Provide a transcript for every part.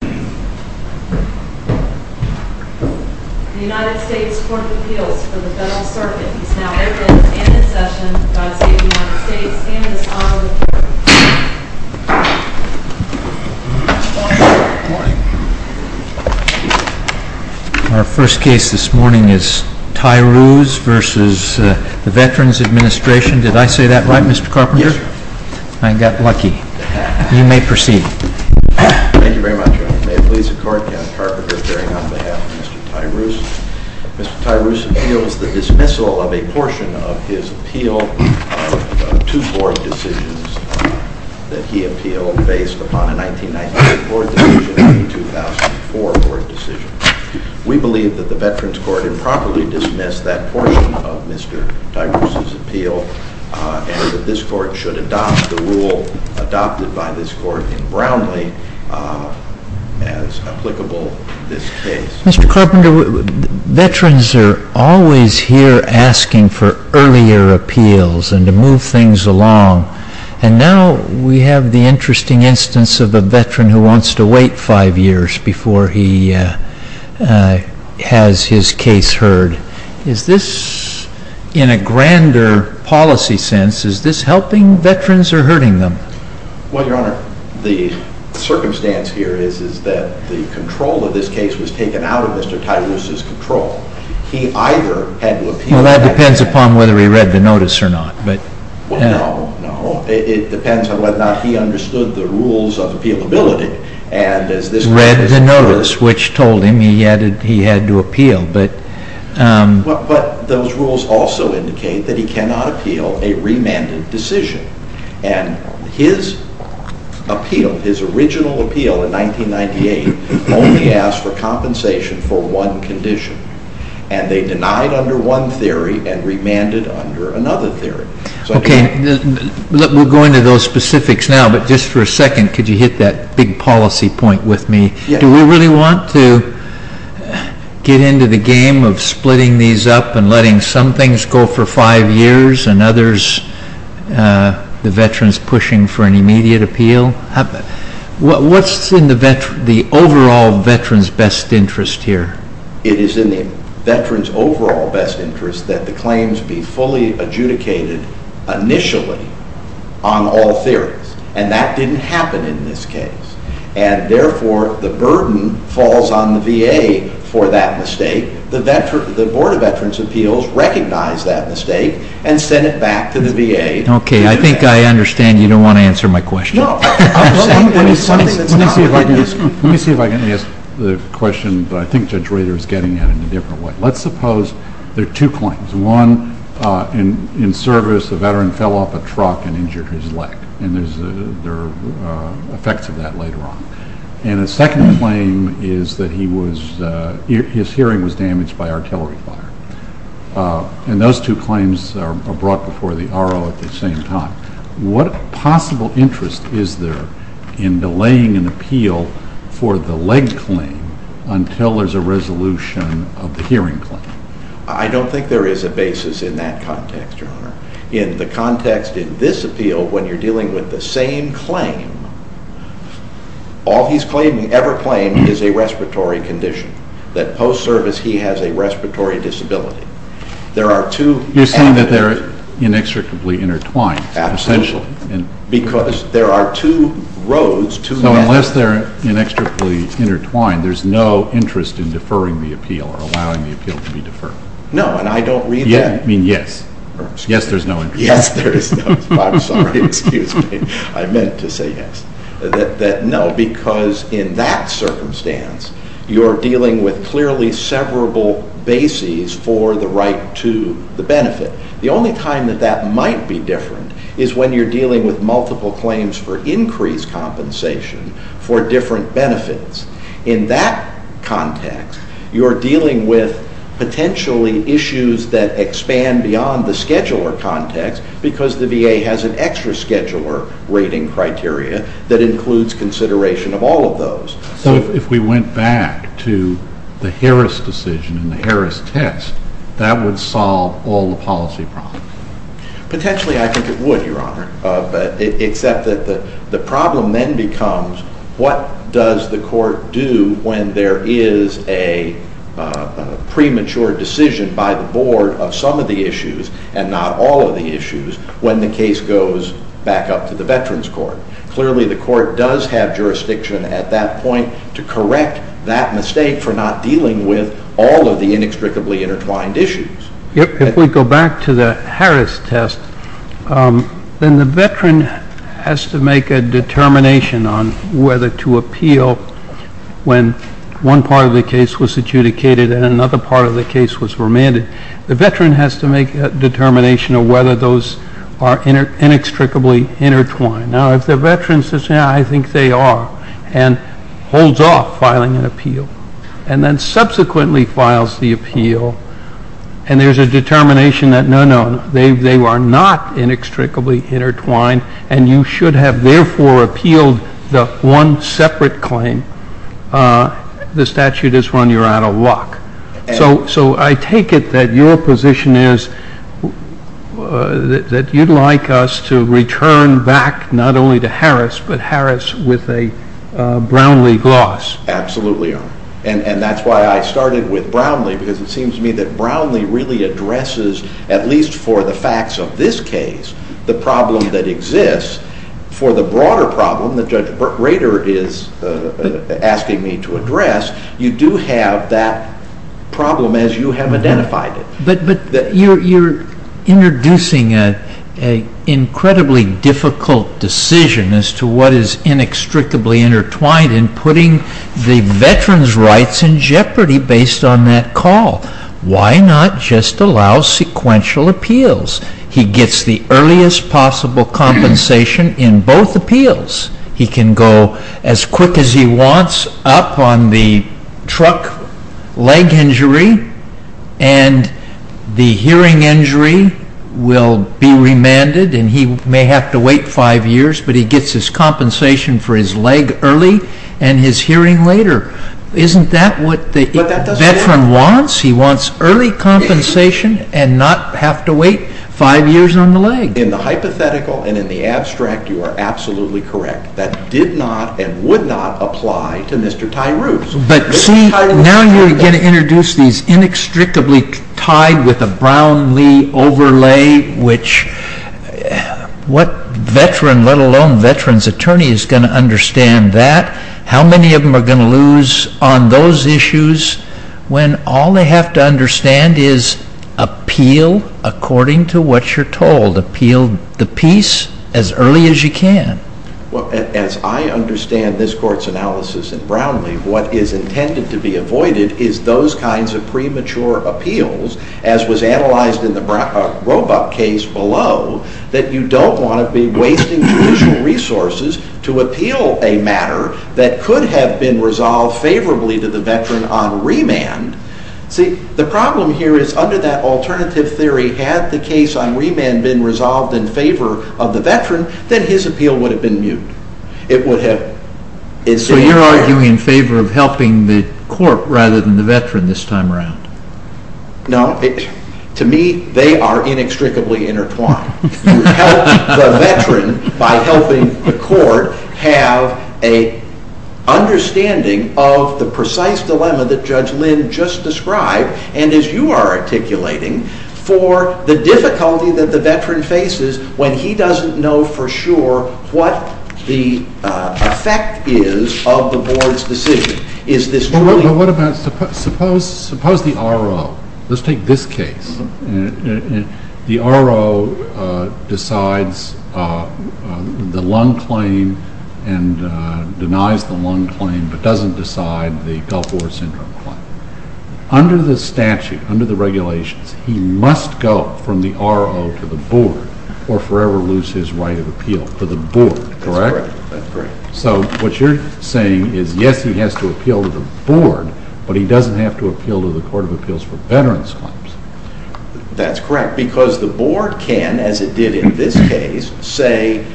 The United States Court of Appeals for the Federal Circuit is now open and in session by the State of the United States and its Honorable Chair. Our first case this morning is TYRUES v. the Veterans Administration. Did I say that right, Mr. Carpenter? Yes, sir. I got lucky. You may proceed. Thank you very much. Thank you, Mr. Chairman. May it please the Court, Mr. Carpenter, bearing on behalf of Mr. Tyrues. Mr. Tyrues appeals the dismissal of a portion of his appeal of two board decisions that he appealed based upon a 1998 board decision and a 2004 board decision. We believe that the Veterans Court improperly dismissed that portion of Mr. Tyrues' appeal Mr. Carpenter, veterans are always here asking for earlier appeals and to move things along, and now we have the interesting instance of a veteran who wants to wait five years before he has his case heard. Is this, in a grander policy sense, is this helping veterans or hurting them? Well, Your Honor, the circumstance here is that the control of this case was taken out of Mr. Tyrues' control. He either had to appeal or had to wait. Well, that depends upon whether he read the notice or not. Well, no, no. It depends on whether or not he understood the rules of appealability and as this case occurs. The notice which told him he had to appeal, but those rules also indicate that he cannot appeal a remanded decision, and his appeal, his original appeal in 1998 only asked for compensation for one condition, and they denied under one theory and remanded under another theory. Okay, we'll go into those specifics now, but just for a second, could you hit that big policy point with me? Do we really want to get into the game of splitting these up and letting some things go for five years and others, the veterans, pushing for an immediate appeal? What's in the overall veteran's best interest here? It is in the veteran's overall best interest that the claims be fully adjudicated initially on all theories, and that didn't happen in this case. And therefore, the burden falls on the VA for that mistake. The Board of Veterans' Appeals recognized that mistake and sent it back to the VA. Okay, I think I understand you don't want to answer my question. No. Let me see if I can ask the question, but I think Judge Rader is getting at it in a different way. Let's suppose there are two claims. One, in service, a veteran fell off a truck and injured his leg, and there are effects of that later on. And the second claim is that his hearing was damaged by artillery fire. And those two claims are brought before the RO at the same time. What possible interest is there in delaying an appeal for the leg claim until there's a resolution of the hearing claim? I don't think there is a basis in that context, Your Honor. In the context in this appeal, when you're dealing with the same claim, all he's ever claimed is a respiratory condition. That post-service, he has a respiratory disability. You're saying that they're inextricably intertwined. Absolutely. Because there are two roads. So unless they're inextricably intertwined, there's no interest in deferring the appeal or allowing the appeal to be deferred. No, and I don't read that. I mean, yes. Yes, there's no interest. Yes, there is no. I'm sorry. Excuse me. I meant to say yes. No, because in that circumstance, you're dealing with clearly severable bases for the right to the benefit. The only time that that might be different is when you're dealing with multiple claims for increased compensation for different benefits. In that context, you're dealing with potentially issues that expand beyond the scheduler context because the VA has an extra scheduler rating criteria that includes consideration of all of those. So if we went back to the Harris decision and the Harris test, that would solve all the policy problems? Potentially, I think it would, Your Honor, except that the problem then becomes what does the court do when there is a premature decision by the board of some of the issues and not all of the issues when the case goes back up to the Veterans Court? Clearly, the court does have jurisdiction at that point to correct that mistake for not dealing with all of the inextricably intertwined issues. If we go back to the Harris test, then the veteran has to make a determination on whether to appeal when one part of the case was adjudicated and another part of the case was remanded. The veteran has to make a determination on whether those are inextricably intertwined. Now, if the veteran says, yeah, I think they are and holds off filing an appeal and then subsequently files the appeal and there is a determination that no, no, they are not inextricably intertwined and you should have therefore appealed the one separate claim, the statute is run, you are out of luck. So, I take it that your position is that you would like us to return back not only to Harris, but Harris with a Brownlee gloss. Absolutely, Your Honor. And that is why I started with Brownlee because it seems to me that Brownlee really addresses at least for the facts of this case, the problem that exists. For the broader problem that Judge Rader is asking me to address, you do have that problem as you have identified it. But you are introducing an incredibly difficult decision as to what is inextricably intertwined in putting the veteran's rights in jeopardy based on that call. Why not just allow sequential appeals? He gets the earliest possible compensation in both appeals. He can go as quick as he wants up on the truck leg injury and the hearing injury will be remanded and he may have to wait five years, but he gets his compensation for his leg early and his hearing later. Isn't that what the veteran wants? He wants early compensation and not have to wait five years on the leg. In the hypothetical and in the abstract, you are absolutely correct. That did not and would not apply to Mr. Tyrous. But see, now you are going to introduce these inextricably tied with a Brownlee overlay which what veteran, let alone veteran's attorney, is going to understand that? How many of them are going to lose on those issues when all they have to understand is appeal according to what you are told? Appeal the peace as early as you can? As I understand this Court's analysis in Brownlee, what is intended to be avoided is those kinds of premature appeals as was analyzed in the Roebuck case below that you don't want to be wasting judicial resources to appeal a matter that could have been resolved favorably to the veteran on remand. See, the problem here is under that alternative theory, had the case on remand been resolved in favor of the veteran, then his appeal would have been mute. So you are arguing in favor of helping the court rather than the veteran this time around? No. To me, they are inextricably intertwined. You help the veteran by helping the court have an understanding of the precise dilemma that Judge Lind just described and as you are articulating for the difficulty that the veteran faces when he doesn't know for sure what the effect is of the board's decision. But what about, suppose the R.O., let's take this case, the R.O. decides the lung claim and denies the lung claim but doesn't decide the Gulf War Syndrome claim. Under the statute, under the regulations, he must go from the R.O. to the board or forever lose his right of appeal to the board, correct? So what you are saying is yes, he has to appeal to the board but he doesn't have to appeal to the Court of Appeals for Veterans Claims. That's correct because the board can, as it did in this case, say,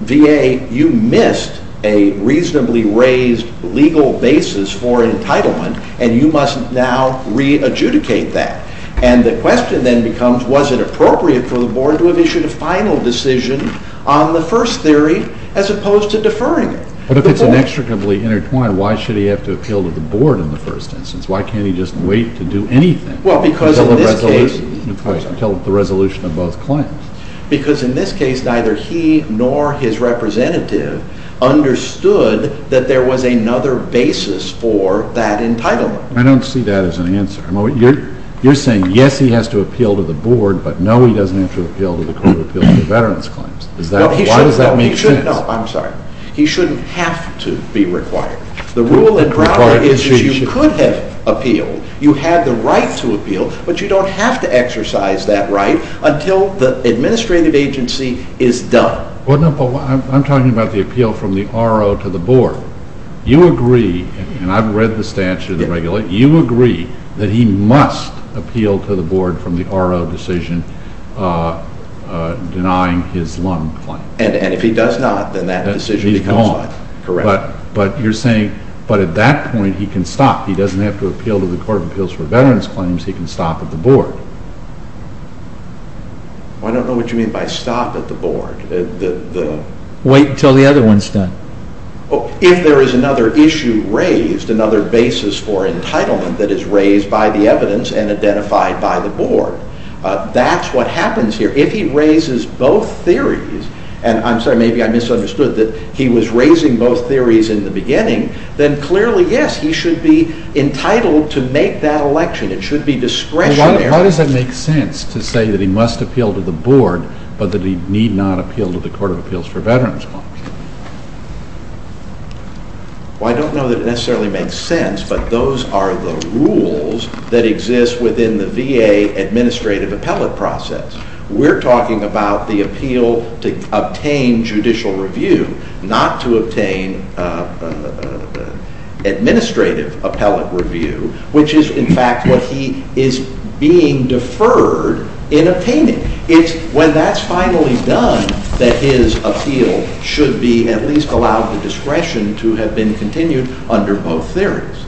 VA, you missed a reasonably raised legal basis for entitlement and you must now re-adjudicate that. And the question then becomes was it appropriate for the board to have issued a final decision on the first theory as opposed to deferring it? But if it's inextricably intertwined, why should he have to appeal to the board in the first instance? Why can't he just wait to do anything until the resolution of both claims? Because in this case, neither he nor his representative understood that there was another basis for that entitlement. I don't see that as an answer. You're saying yes, he has to appeal to the board but no, he doesn't have to appeal to the Court of Appeals for Veterans Claims. Why does that make sense? He shouldn't have to be required. The rule in Broward is that you could have appealed, you had the right to appeal, but you don't have to exercise that right until the administrative agency is done. I'm talking about the appeal from the RO to the board. You agree, and I've read the statute, you agree that he must appeal to the board from the RO without a decision denying his loan claim. And if he does not, then that decision is gone. But you're saying, but at that point, he can stop. He doesn't have to appeal to the Court of Appeals for Veterans Claims, he can stop at the board. I don't know what you mean by stop at the board. Wait until the other one is done. If there is another issue raised, another basis for entitlement that is raised by the evidence and identified by the board. That's what happens here. If he raises both theories, and I'm sorry, maybe I misunderstood, that he was raising both theories in the beginning, then clearly, yes, he should be entitled to make that election. It should be discretionary. Why does that make sense, to say that he must appeal to the board, but that he need not appeal to the Court of Appeals for Veterans Claims? I don't know that it necessarily makes sense, but those are the rules that exist within the VA administrative appellate process. We're talking about the appeal to obtain judicial review, not administrative appellate review, which is, in fact, what he is being deferred in obtaining. It's when that's finally done that his appeal should be at least allowed the discretion to have been continued under both theories,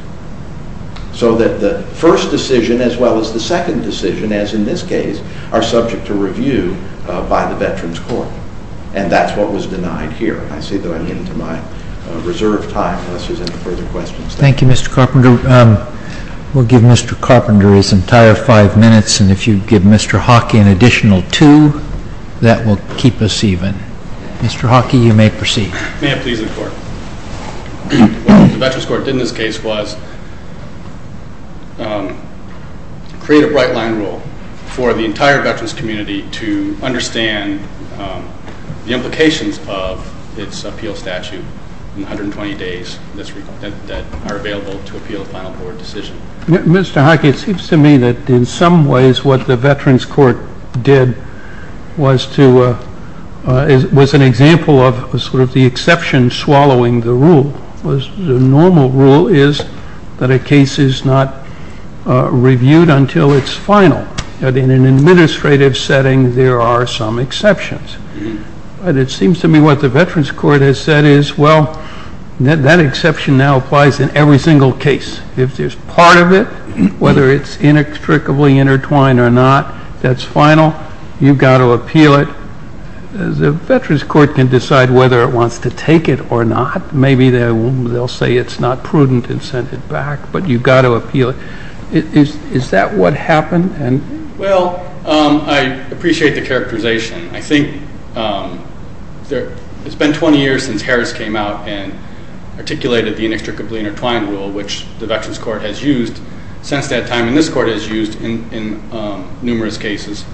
so that the first decision, as well as the second decision, as in this case, are subject to review by the Veterans Court, and that's what was denied here. I see that I'm getting to my reserve time, unless there's any further questions. Thank you, Mr. Carpenter. We'll give Mr. Carpenter his entire five minutes, and if you'd give Mr. Hockey an additional two, that will keep us even. Mr. Hockey, you may proceed. May I please, in court? What the Veterans Court did in this case was create a bright-line rule for the entire Veterans community to understand the implications of its appeal statute in 120 days that are available to appeal a final court decision. Mr. Hockey, it seems to me that in some ways what the Veterans Court did was to was an example of sort of the exception swallowing the rule. The normal rule is that a case is not reviewed until it's final. In an administrative setting, there are some exceptions. It seems to me what the Veterans Court has said is, well, that exception now applies in every single case. If there's part of it, whether it's inextricably intertwined or not, that's final. You've got to appeal it. The Veterans Court can decide whether it wants to take it or not. Maybe they'll say it's not prudent and send it back, but you've got to appeal it. Is that what happened? Well, I appreciate the characterization. I think it's been 20 years since Harris came out and articulated the inextricably intertwined rule, which the Veterans Court has used since that time, and this Court has used in numerous cases.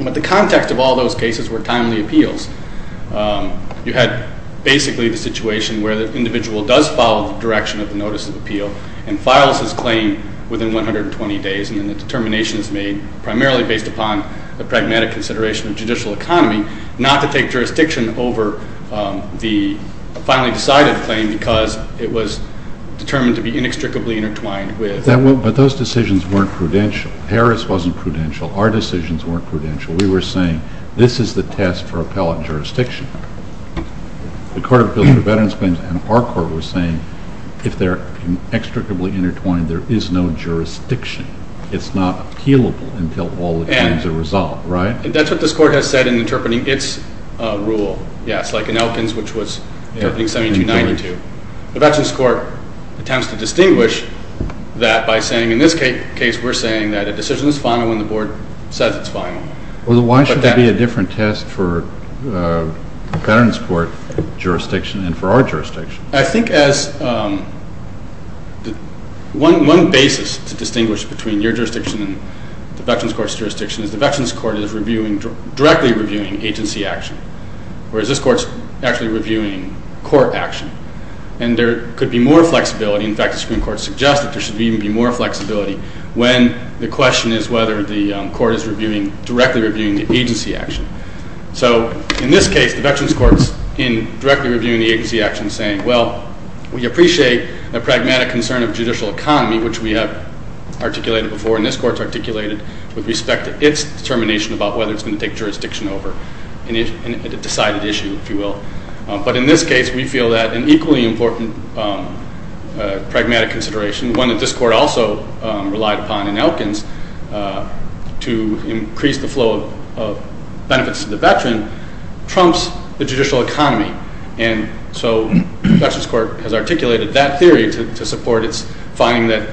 But the context of all those cases were timely appeals. You had basically the situation where the individual does follow the direction of the notice of appeal and files his claim within 120 days and then the determination is made, primarily based upon a pragmatic consideration of judicial economy, not to take jurisdiction over the finally decided claim because it was determined to be inextricably intertwined with... But those decisions weren't prudential. Harris wasn't prudential. Our decisions weren't prudential. We were saying this is the test for appellate jurisdiction. The Court of Appeals for Veterans Claims and our Court were saying if they're inextricably intertwined, there is no jurisdiction. It's not appealable until all the claims are resolved, right? That's what this Court has said in interpreting its rule, yes, like in Elkins which was, I think, 1792. The Veterans Court attempts to distinguish that by saying, in this case, we're saying that a decision is final when the Board says it's final. Why should there be a different test for Veterans Court jurisdiction and for our jurisdiction? I think as one basis to distinguish between your jurisdiction and the Veterans Court's jurisdiction is the Veterans Court is directly reviewing agency action, whereas this Court's actually reviewing court action and there could be more flexibility In fact, the Supreme Court suggests that there should even be more flexibility when the question is whether the Court is directly reviewing the agency action. So, in this case, the Veterans Court's directly reviewing the agency action saying, well, we appreciate the pragmatic concern of judicial economy, which we have articulated before and this Court's articulated with respect to its determination about whether it's going to take jurisdiction over a decided issue, if you will. But in this case, we feel that an equally important pragmatic consideration, one that this Court also relied upon in Elkins to increase the flow of benefits to the Veteran, trumps the judicial economy. So, the Veterans Court has articulated that theory to support its finding that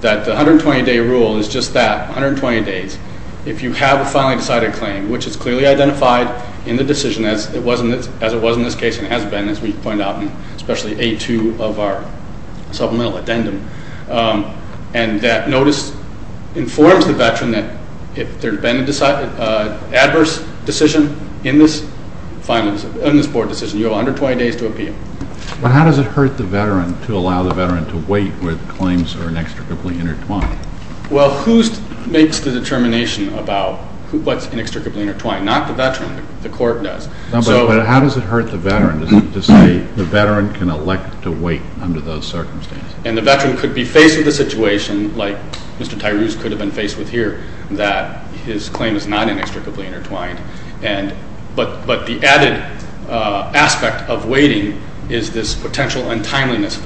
the 120-day rule is just that, 120 days. If you have a finally decided claim which is clearly identified in the decision as it was in this case and has been, as we point out, especially A2 of our supplemental addendum, and that notice informs the Veteran that if there's been a adverse decision in this board decision, you have 120 days to appeal. But how does it hurt the Veteran to allow the Veteran to wait where the claims are inextricably intertwined? Well, who makes the determination about what's inextricably intertwined? Not the Veteran. The Court does. But how does it hurt the Veteran to say the Veteran can elect to wait under those circumstances? And the Veteran could be faced with a situation like Mr. Tyrus could have been faced with here, that his claim is not inextricably intertwined, but the added aspect of waiting is this potential untimeliness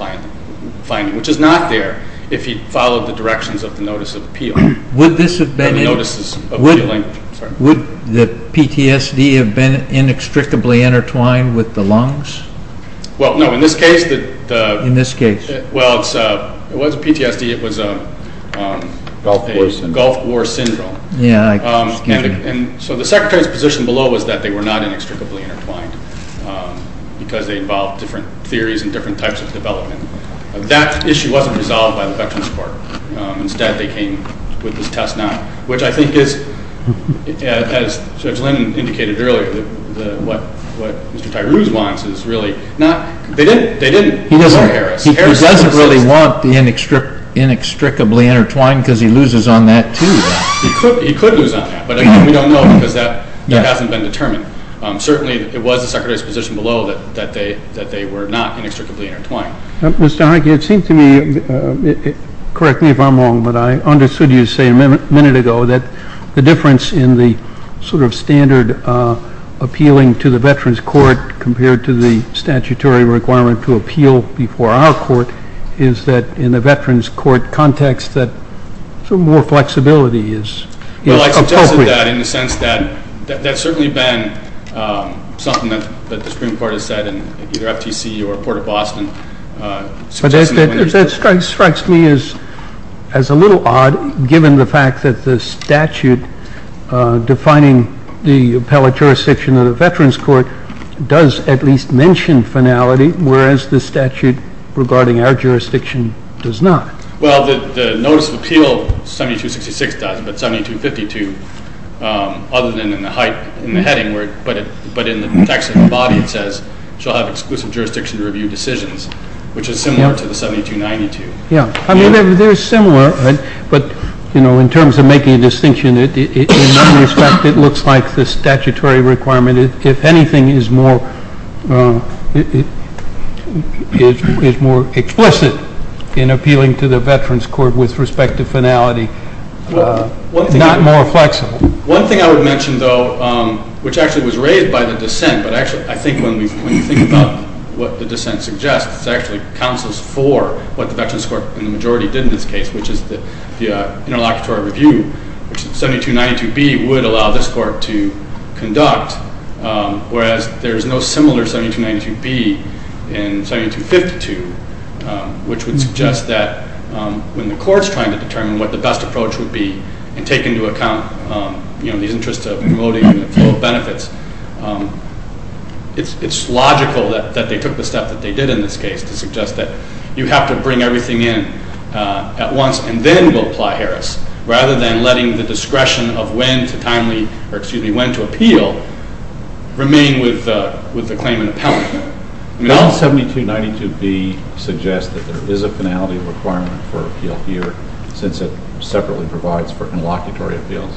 finding, which is not there if he followed the directions of the notice of appeal. Would the PTSD have been inextricably intertwined with the lungs? Well, no. In this case, it was PTSD. It was a Gulf War syndrome. So the Secretary's position below was that they were not inextricably intertwined because they involved different theories and different types of development. That issue wasn't resolved by the Veterans Court. Instead, they came with this test now, which I think is as Judge Linn indicated earlier, what Mr. Tyrus wants is really not, they didn't say Harris. He doesn't really want the inextricably intertwined because he loses on that too. He could lose on that, but we don't know because that hasn't been determined. Certainly, it was the Secretary's position below that they were not inextricably intertwined. Mr. Heike, it seemed to me, correct me if I'm wrong, but I understood you saying a minute ago that the difference in the sort of standard appealing to the Veterans Court compared to the statutory requirement to appeal before our court is that in the Veterans Court context that some more flexibility is appropriate. Well, I suggested that in the sense that that's certainly been something that the Supreme Court has said in either FTC or Port of Boston. That strikes me as a little odd given the fact that the statute defining the appellate jurisdiction of the Veterans Court does at least mention finality, whereas the statute regarding our jurisdiction does not. Well, the notice of appeal 7266 does, but 7252 other than in the heading, but in the text of the body it says, shall have exclusive jurisdiction to review decisions, which is similar to the 7292. I mean, they're similar, but in terms of making a distinction, in that respect it looks like the statutory requirement if anything is more explicit in appealing to the Veterans Court with respect to finality is not more flexible. One thing I would mention, though, which actually was raised by the dissent, but I think when you think about what the dissent suggests, it actually counsels for what the Veterans Court and the majority did in this case, which is the interlocutory review, which 7292B would allow this court to conduct, whereas there's no similar 7292B in 7252, which would suggest that when the court's trying to determine what the best approach would be and take into account these interests of promoting the flow of benefits, it's logical that they took the step that they did in this case to suggest that you have to bring everything in at once and then go apply Harris, rather than letting the discretion of when to timely or excuse me, when to appeal remain with the claimant appellant. Doesn't 7292B suggest that there is a finality requirement for appeal here, since it separately provides for interlocutory appeals?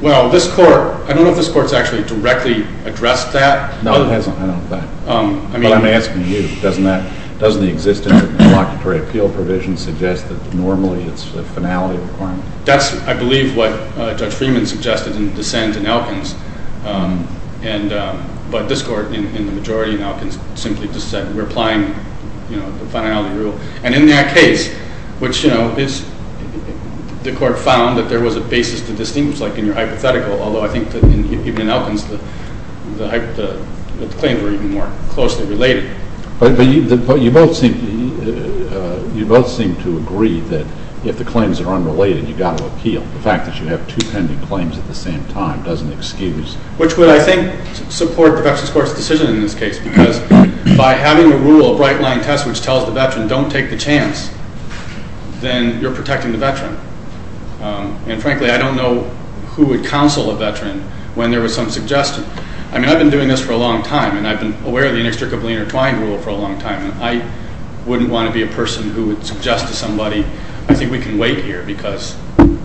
Well, this court, I don't know if this court's actually directly addressed that. No, it hasn't, I don't think. But I'm asking you, doesn't the existing interlocutory appeal provision suggest that normally it's a finality requirement? That's, I believe, what Judge Freeman suggested in dissent in Elkins. But this court, in the majority in Elkins, simply just said we're applying the finality rule. And in that case, which, you know, the court found that there was a basis to distinguish, like in your hypothetical, although I think that even in Elkins the claims were even more closely related. But you both seem to agree that if the claims are unrelated, you've got to appeal. The fact that you have two pending claims at the same time doesn't excuse Which would, I think, support the Veterans Court's decision in this case, because by having a rule, a bright line test which tells the veteran, don't take the chance, then you're protecting the veteran. And frankly, I don't know who would counsel a veteran when there was some suggestion. I mean, I've been doing this for a long time, and I've been aware of the inextricably intertwined rule for a long time, and I wouldn't want to be a person who would suggest to somebody, I think we can wait here, because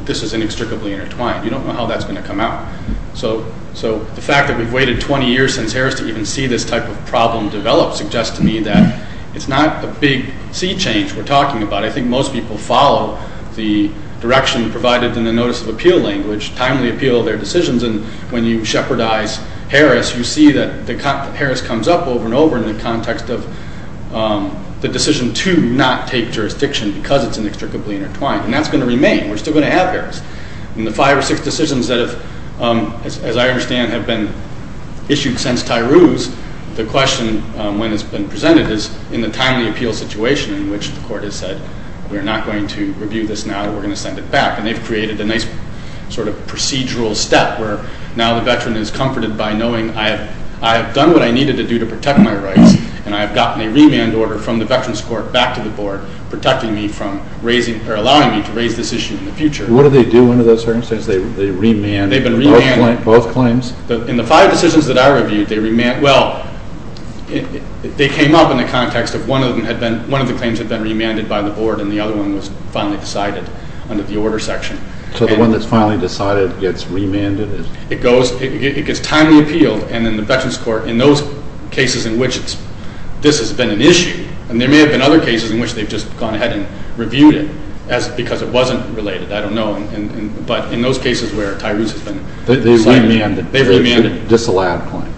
this is inextricably intertwined. You don't know how that's going to come out. So the fact that we've waited 20 years since Harris to even see this type of problem develop suggests to me that it's not a big sea change we're talking about. I think most people follow the appeal language, timely appeal their decisions, and when you shepherdize Harris, you see that Harris comes up over and over in the context of the decision to not take jurisdiction because it's inextricably intertwined. And that's going to remain. We're still going to have Harris. And the five or six decisions that have, as I understand, have been issued since Tyroo's, the question, when it's been presented, is in the timely appeal situation in which the court has said we're not going to review this now, we're going to send it back. And they've created a nice sort of procedural step where now the veteran is comforted by knowing I have done what I needed to do to protect my rights and I have gotten a remand order from the veterans court back to the board protecting me from raising, or allowing me to raise this issue in the future. What do they do under those circumstances? They remand both claims? In the five decisions that I reviewed, they remand well, they came up in the context of one of the claims had been remanded by the board and the other one was finally decided under the order section. So the one that's finally decided gets remanded? It goes, it gets timely appealed and then the veterans court, in those cases in which this has been an issue, and there may have been other cases in which they've just gone ahead and reviewed it because it wasn't related, I don't know but in those cases where Tyroo's has been remanded. They've remanded the disallowed claim?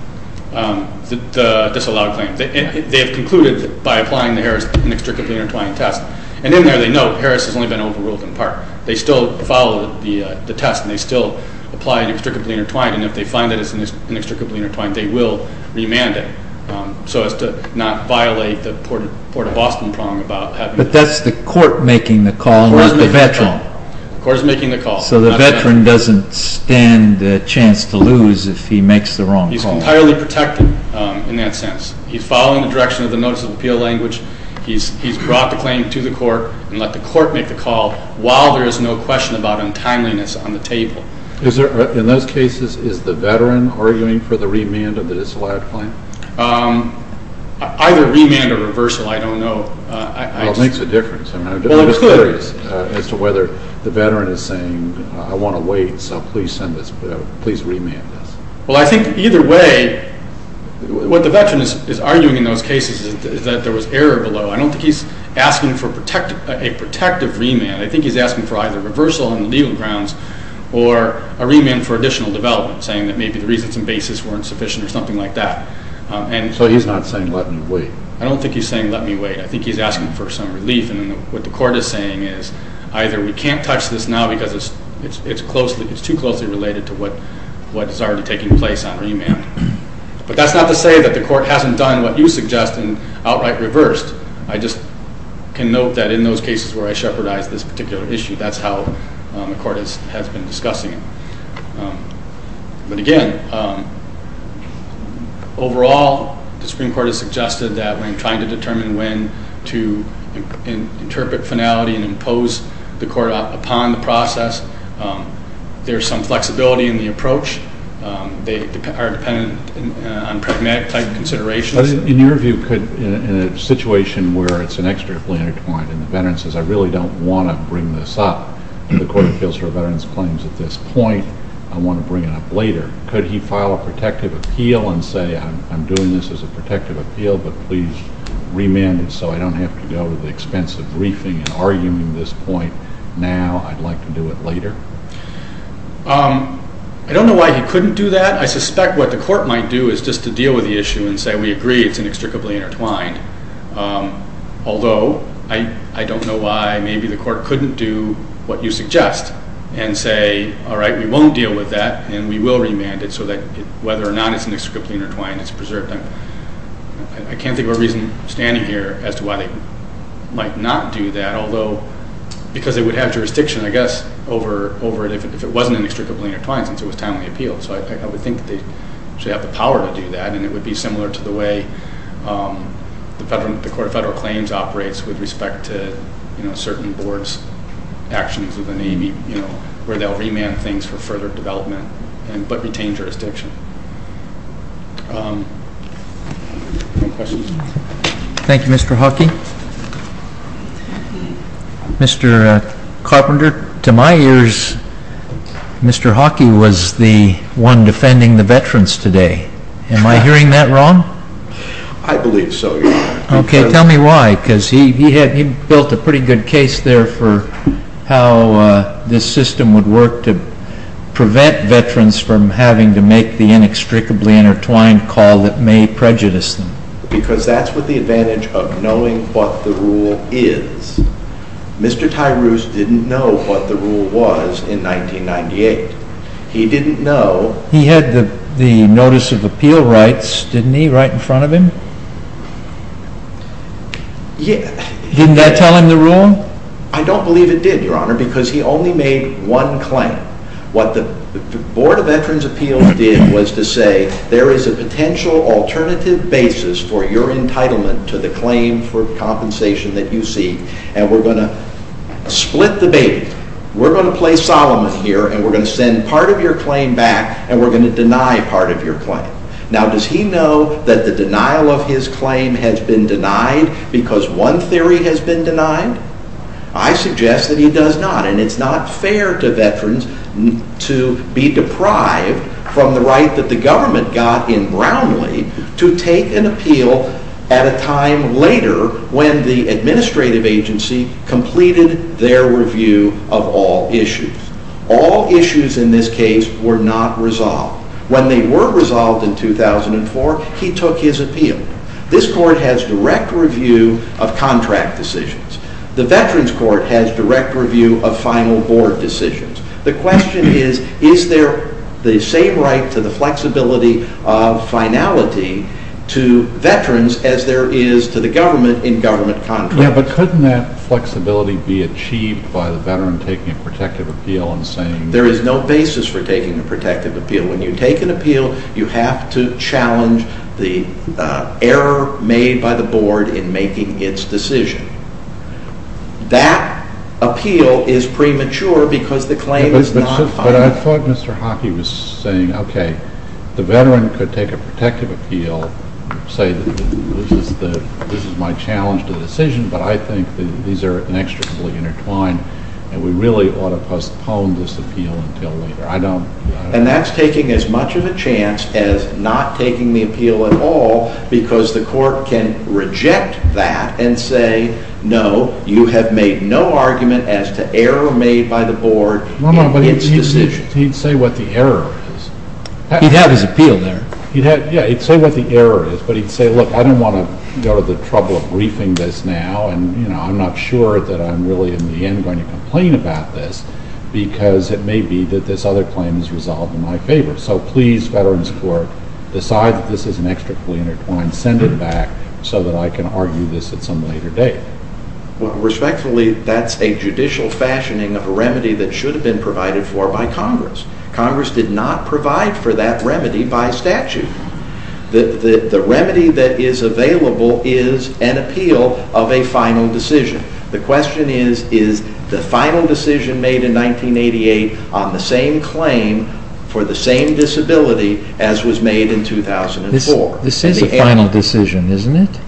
The disallowed claim. They have concluded by applying to Harris an inextricably intertwined test, and in there they know Harris has only been overruled in part. They still follow the test and they still apply an inextricably intertwined and if they find it is inextricably intertwined they will remand it so as to not violate the port of Boston prong about having But that's the court making the call or the veteran? The court is making the call. So the veteran doesn't stand the chance to lose if he makes the wrong call? He's entirely protected in that sense. He's following the direction of the Notice of Appeal language he's brought the claim to the court and let the court make the call while there is no question about untimeliness on the table. In those cases is the veteran arguing for the remand of the disallowed claim? Either remand or reversal I don't know. Well it makes a difference. As to whether the veteran is saying I want to wait so please remand this. Well I think either way What the veteran is arguing in those cases is that there was error below I don't think he's asking for a protective remand. I think he's asking for either reversal on the legal grounds or a remand for additional development saying that maybe the reasons and basis weren't sufficient or something like that. So he's not saying let me wait? I don't think he's saying let me wait. I think he's asking for some relief and what the court is saying is either we can't touch this now because it's too closely related to what is already taking place on remand. But that's not to say that the court hasn't done what you suggest and outright reversed. I just can note that in those cases where I shepherdized this particular issue, that's how the court has been discussing it. But again overall the Supreme Court has suggested that when trying to determine when to interpret finality and impose the court upon the process there's some flexibility in the approach. They are dependent on pragmatic type considerations. In your view in a situation where it's an extracurricular point and the veteran says I really don't want to bring this up and the court appeals for a veteran's claims at this point, I want to bring it up later could he file a protective appeal and say I'm doing this as a protective appeal but please remand it so I don't have to go to the expense of briefing and arguing this point now? I'd like to do it later? I don't know why he couldn't do that. I suspect what the court might do is just to deal with the issue and say we agree it's an extricably intertwined although I don't know why maybe the court couldn't do what you suggest and say alright we won't deal with that and we will remand it so that whether or not it's an extricably intertwined it's preserved. I can't think of a reason standing here as to why they might not do that although because they would have jurisdiction I guess over if it wasn't an extricably intertwined since it was timely appealed so I would think they should have the power to do that and it would be similar to the way the court of federal claims operates with respect to certain boards actions within the where they'll remand things for further development but retain jurisdiction. Any questions? Thank you Mr. Huckey Mr. Carpenter to my ears Mr. Huckey was the one defending the veterans today am I hearing that wrong? I believe so. Okay tell me why because he built a pretty good case there for how this system would work to prevent veterans from having to make the inextricably intertwined call that may prejudice them. Because that's what the advantage of knowing what the rule is. Mr. Tyrus didn't know what the rule was in 1998. He didn't know. He had the notice of appeal rights didn't he right in front of him? Yeah Didn't that tell him the rule? I don't believe it did your honor because he only made one claim. What the board of veterans appeals did was to say there is a potential alternative basis for your entitlement to the claim for compensation that you seek and we're going to split the baby. We're going to play Solomon here and we're going to send part of your claim back and we're going to deny part of your claim. Now does he know that the denial of his claim has been denied because one theory has been denied? I suggest that he does not and it's not fair to veterans to be deprived from the right that the government got in Brownlee to take an appeal at a time later when the administrative agency completed their review of all issues. All issues in this case were not resolved. When they were resolved in 2004 he took his appeal. This court has direct review of contract decisions. The veterans court has direct review of final board decisions. The question is is there the same right to the flexibility of finality to veterans as there is to the government in government contracts. Yeah, but couldn't that flexibility be achieved by the veteran taking a protective appeal and saying There is no basis for taking a protective appeal. When you take an appeal you have to challenge the error made by the board in making its decision. That appeal is premature because the claim is not final. But I thought Mr. Hockey was saying okay, the veteran could take a protective appeal and say this is my challenge to the decision but I think these are inextricably intertwined and we really ought to postpone this appeal until later. And that's taking as much of a chance as not taking the appeal at all because the court can reject that and say no, you have made no by the board in its decision. He'd say what the error is. He'd have his appeal there. Yeah, he'd say what the error is but he'd say look, I don't want to go to the trouble of briefing this now and I'm not sure that I'm really in the end going to complain about this because it may be that this other claim is resolved in my favor. So please, Veterans Court decide that this is inextricably intertwined. Send it back so that I can argue this at some later date. Respectfully, that's a judicial fashioning of a remedy that should have been provided for by Congress. Congress did not provide for that remedy by statute. The remedy that is available is an appeal of a final decision. The question is, is the final decision made in 1988 on the same claim for the same disability as was made in 2004? This is a final decision, isn't it?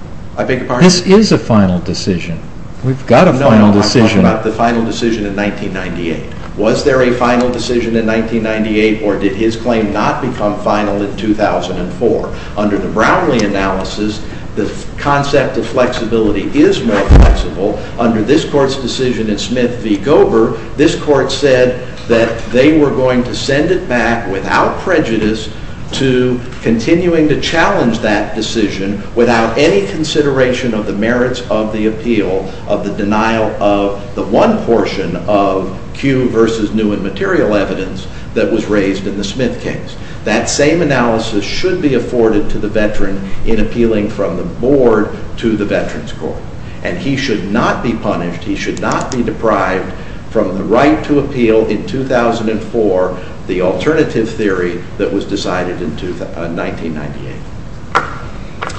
This is a final decision. We've got a final decision. No, I'm talking about the final decision in 1998. Was there a final decision in 1998 or did his claim not become final in 2004? Under the Brownlee analysis, the concept of flexibility is more flexible. Under this Court's decision in Smith v. Gober, this Court said that they were going to send it back without prejudice to continuing to challenge that decision without any consideration of the merits of the appeal of the denial of the one portion of Q v. New and Material evidence that was raised in the Smith case. That same analysis should be afforded to the veteran in appealing from the Board to the Veterans Court. And he should not be punished, he should not be deprived from the right to appeal in 2004 the alternative theory that was decided in 1998.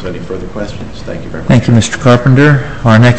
Any further questions? Thank you very much.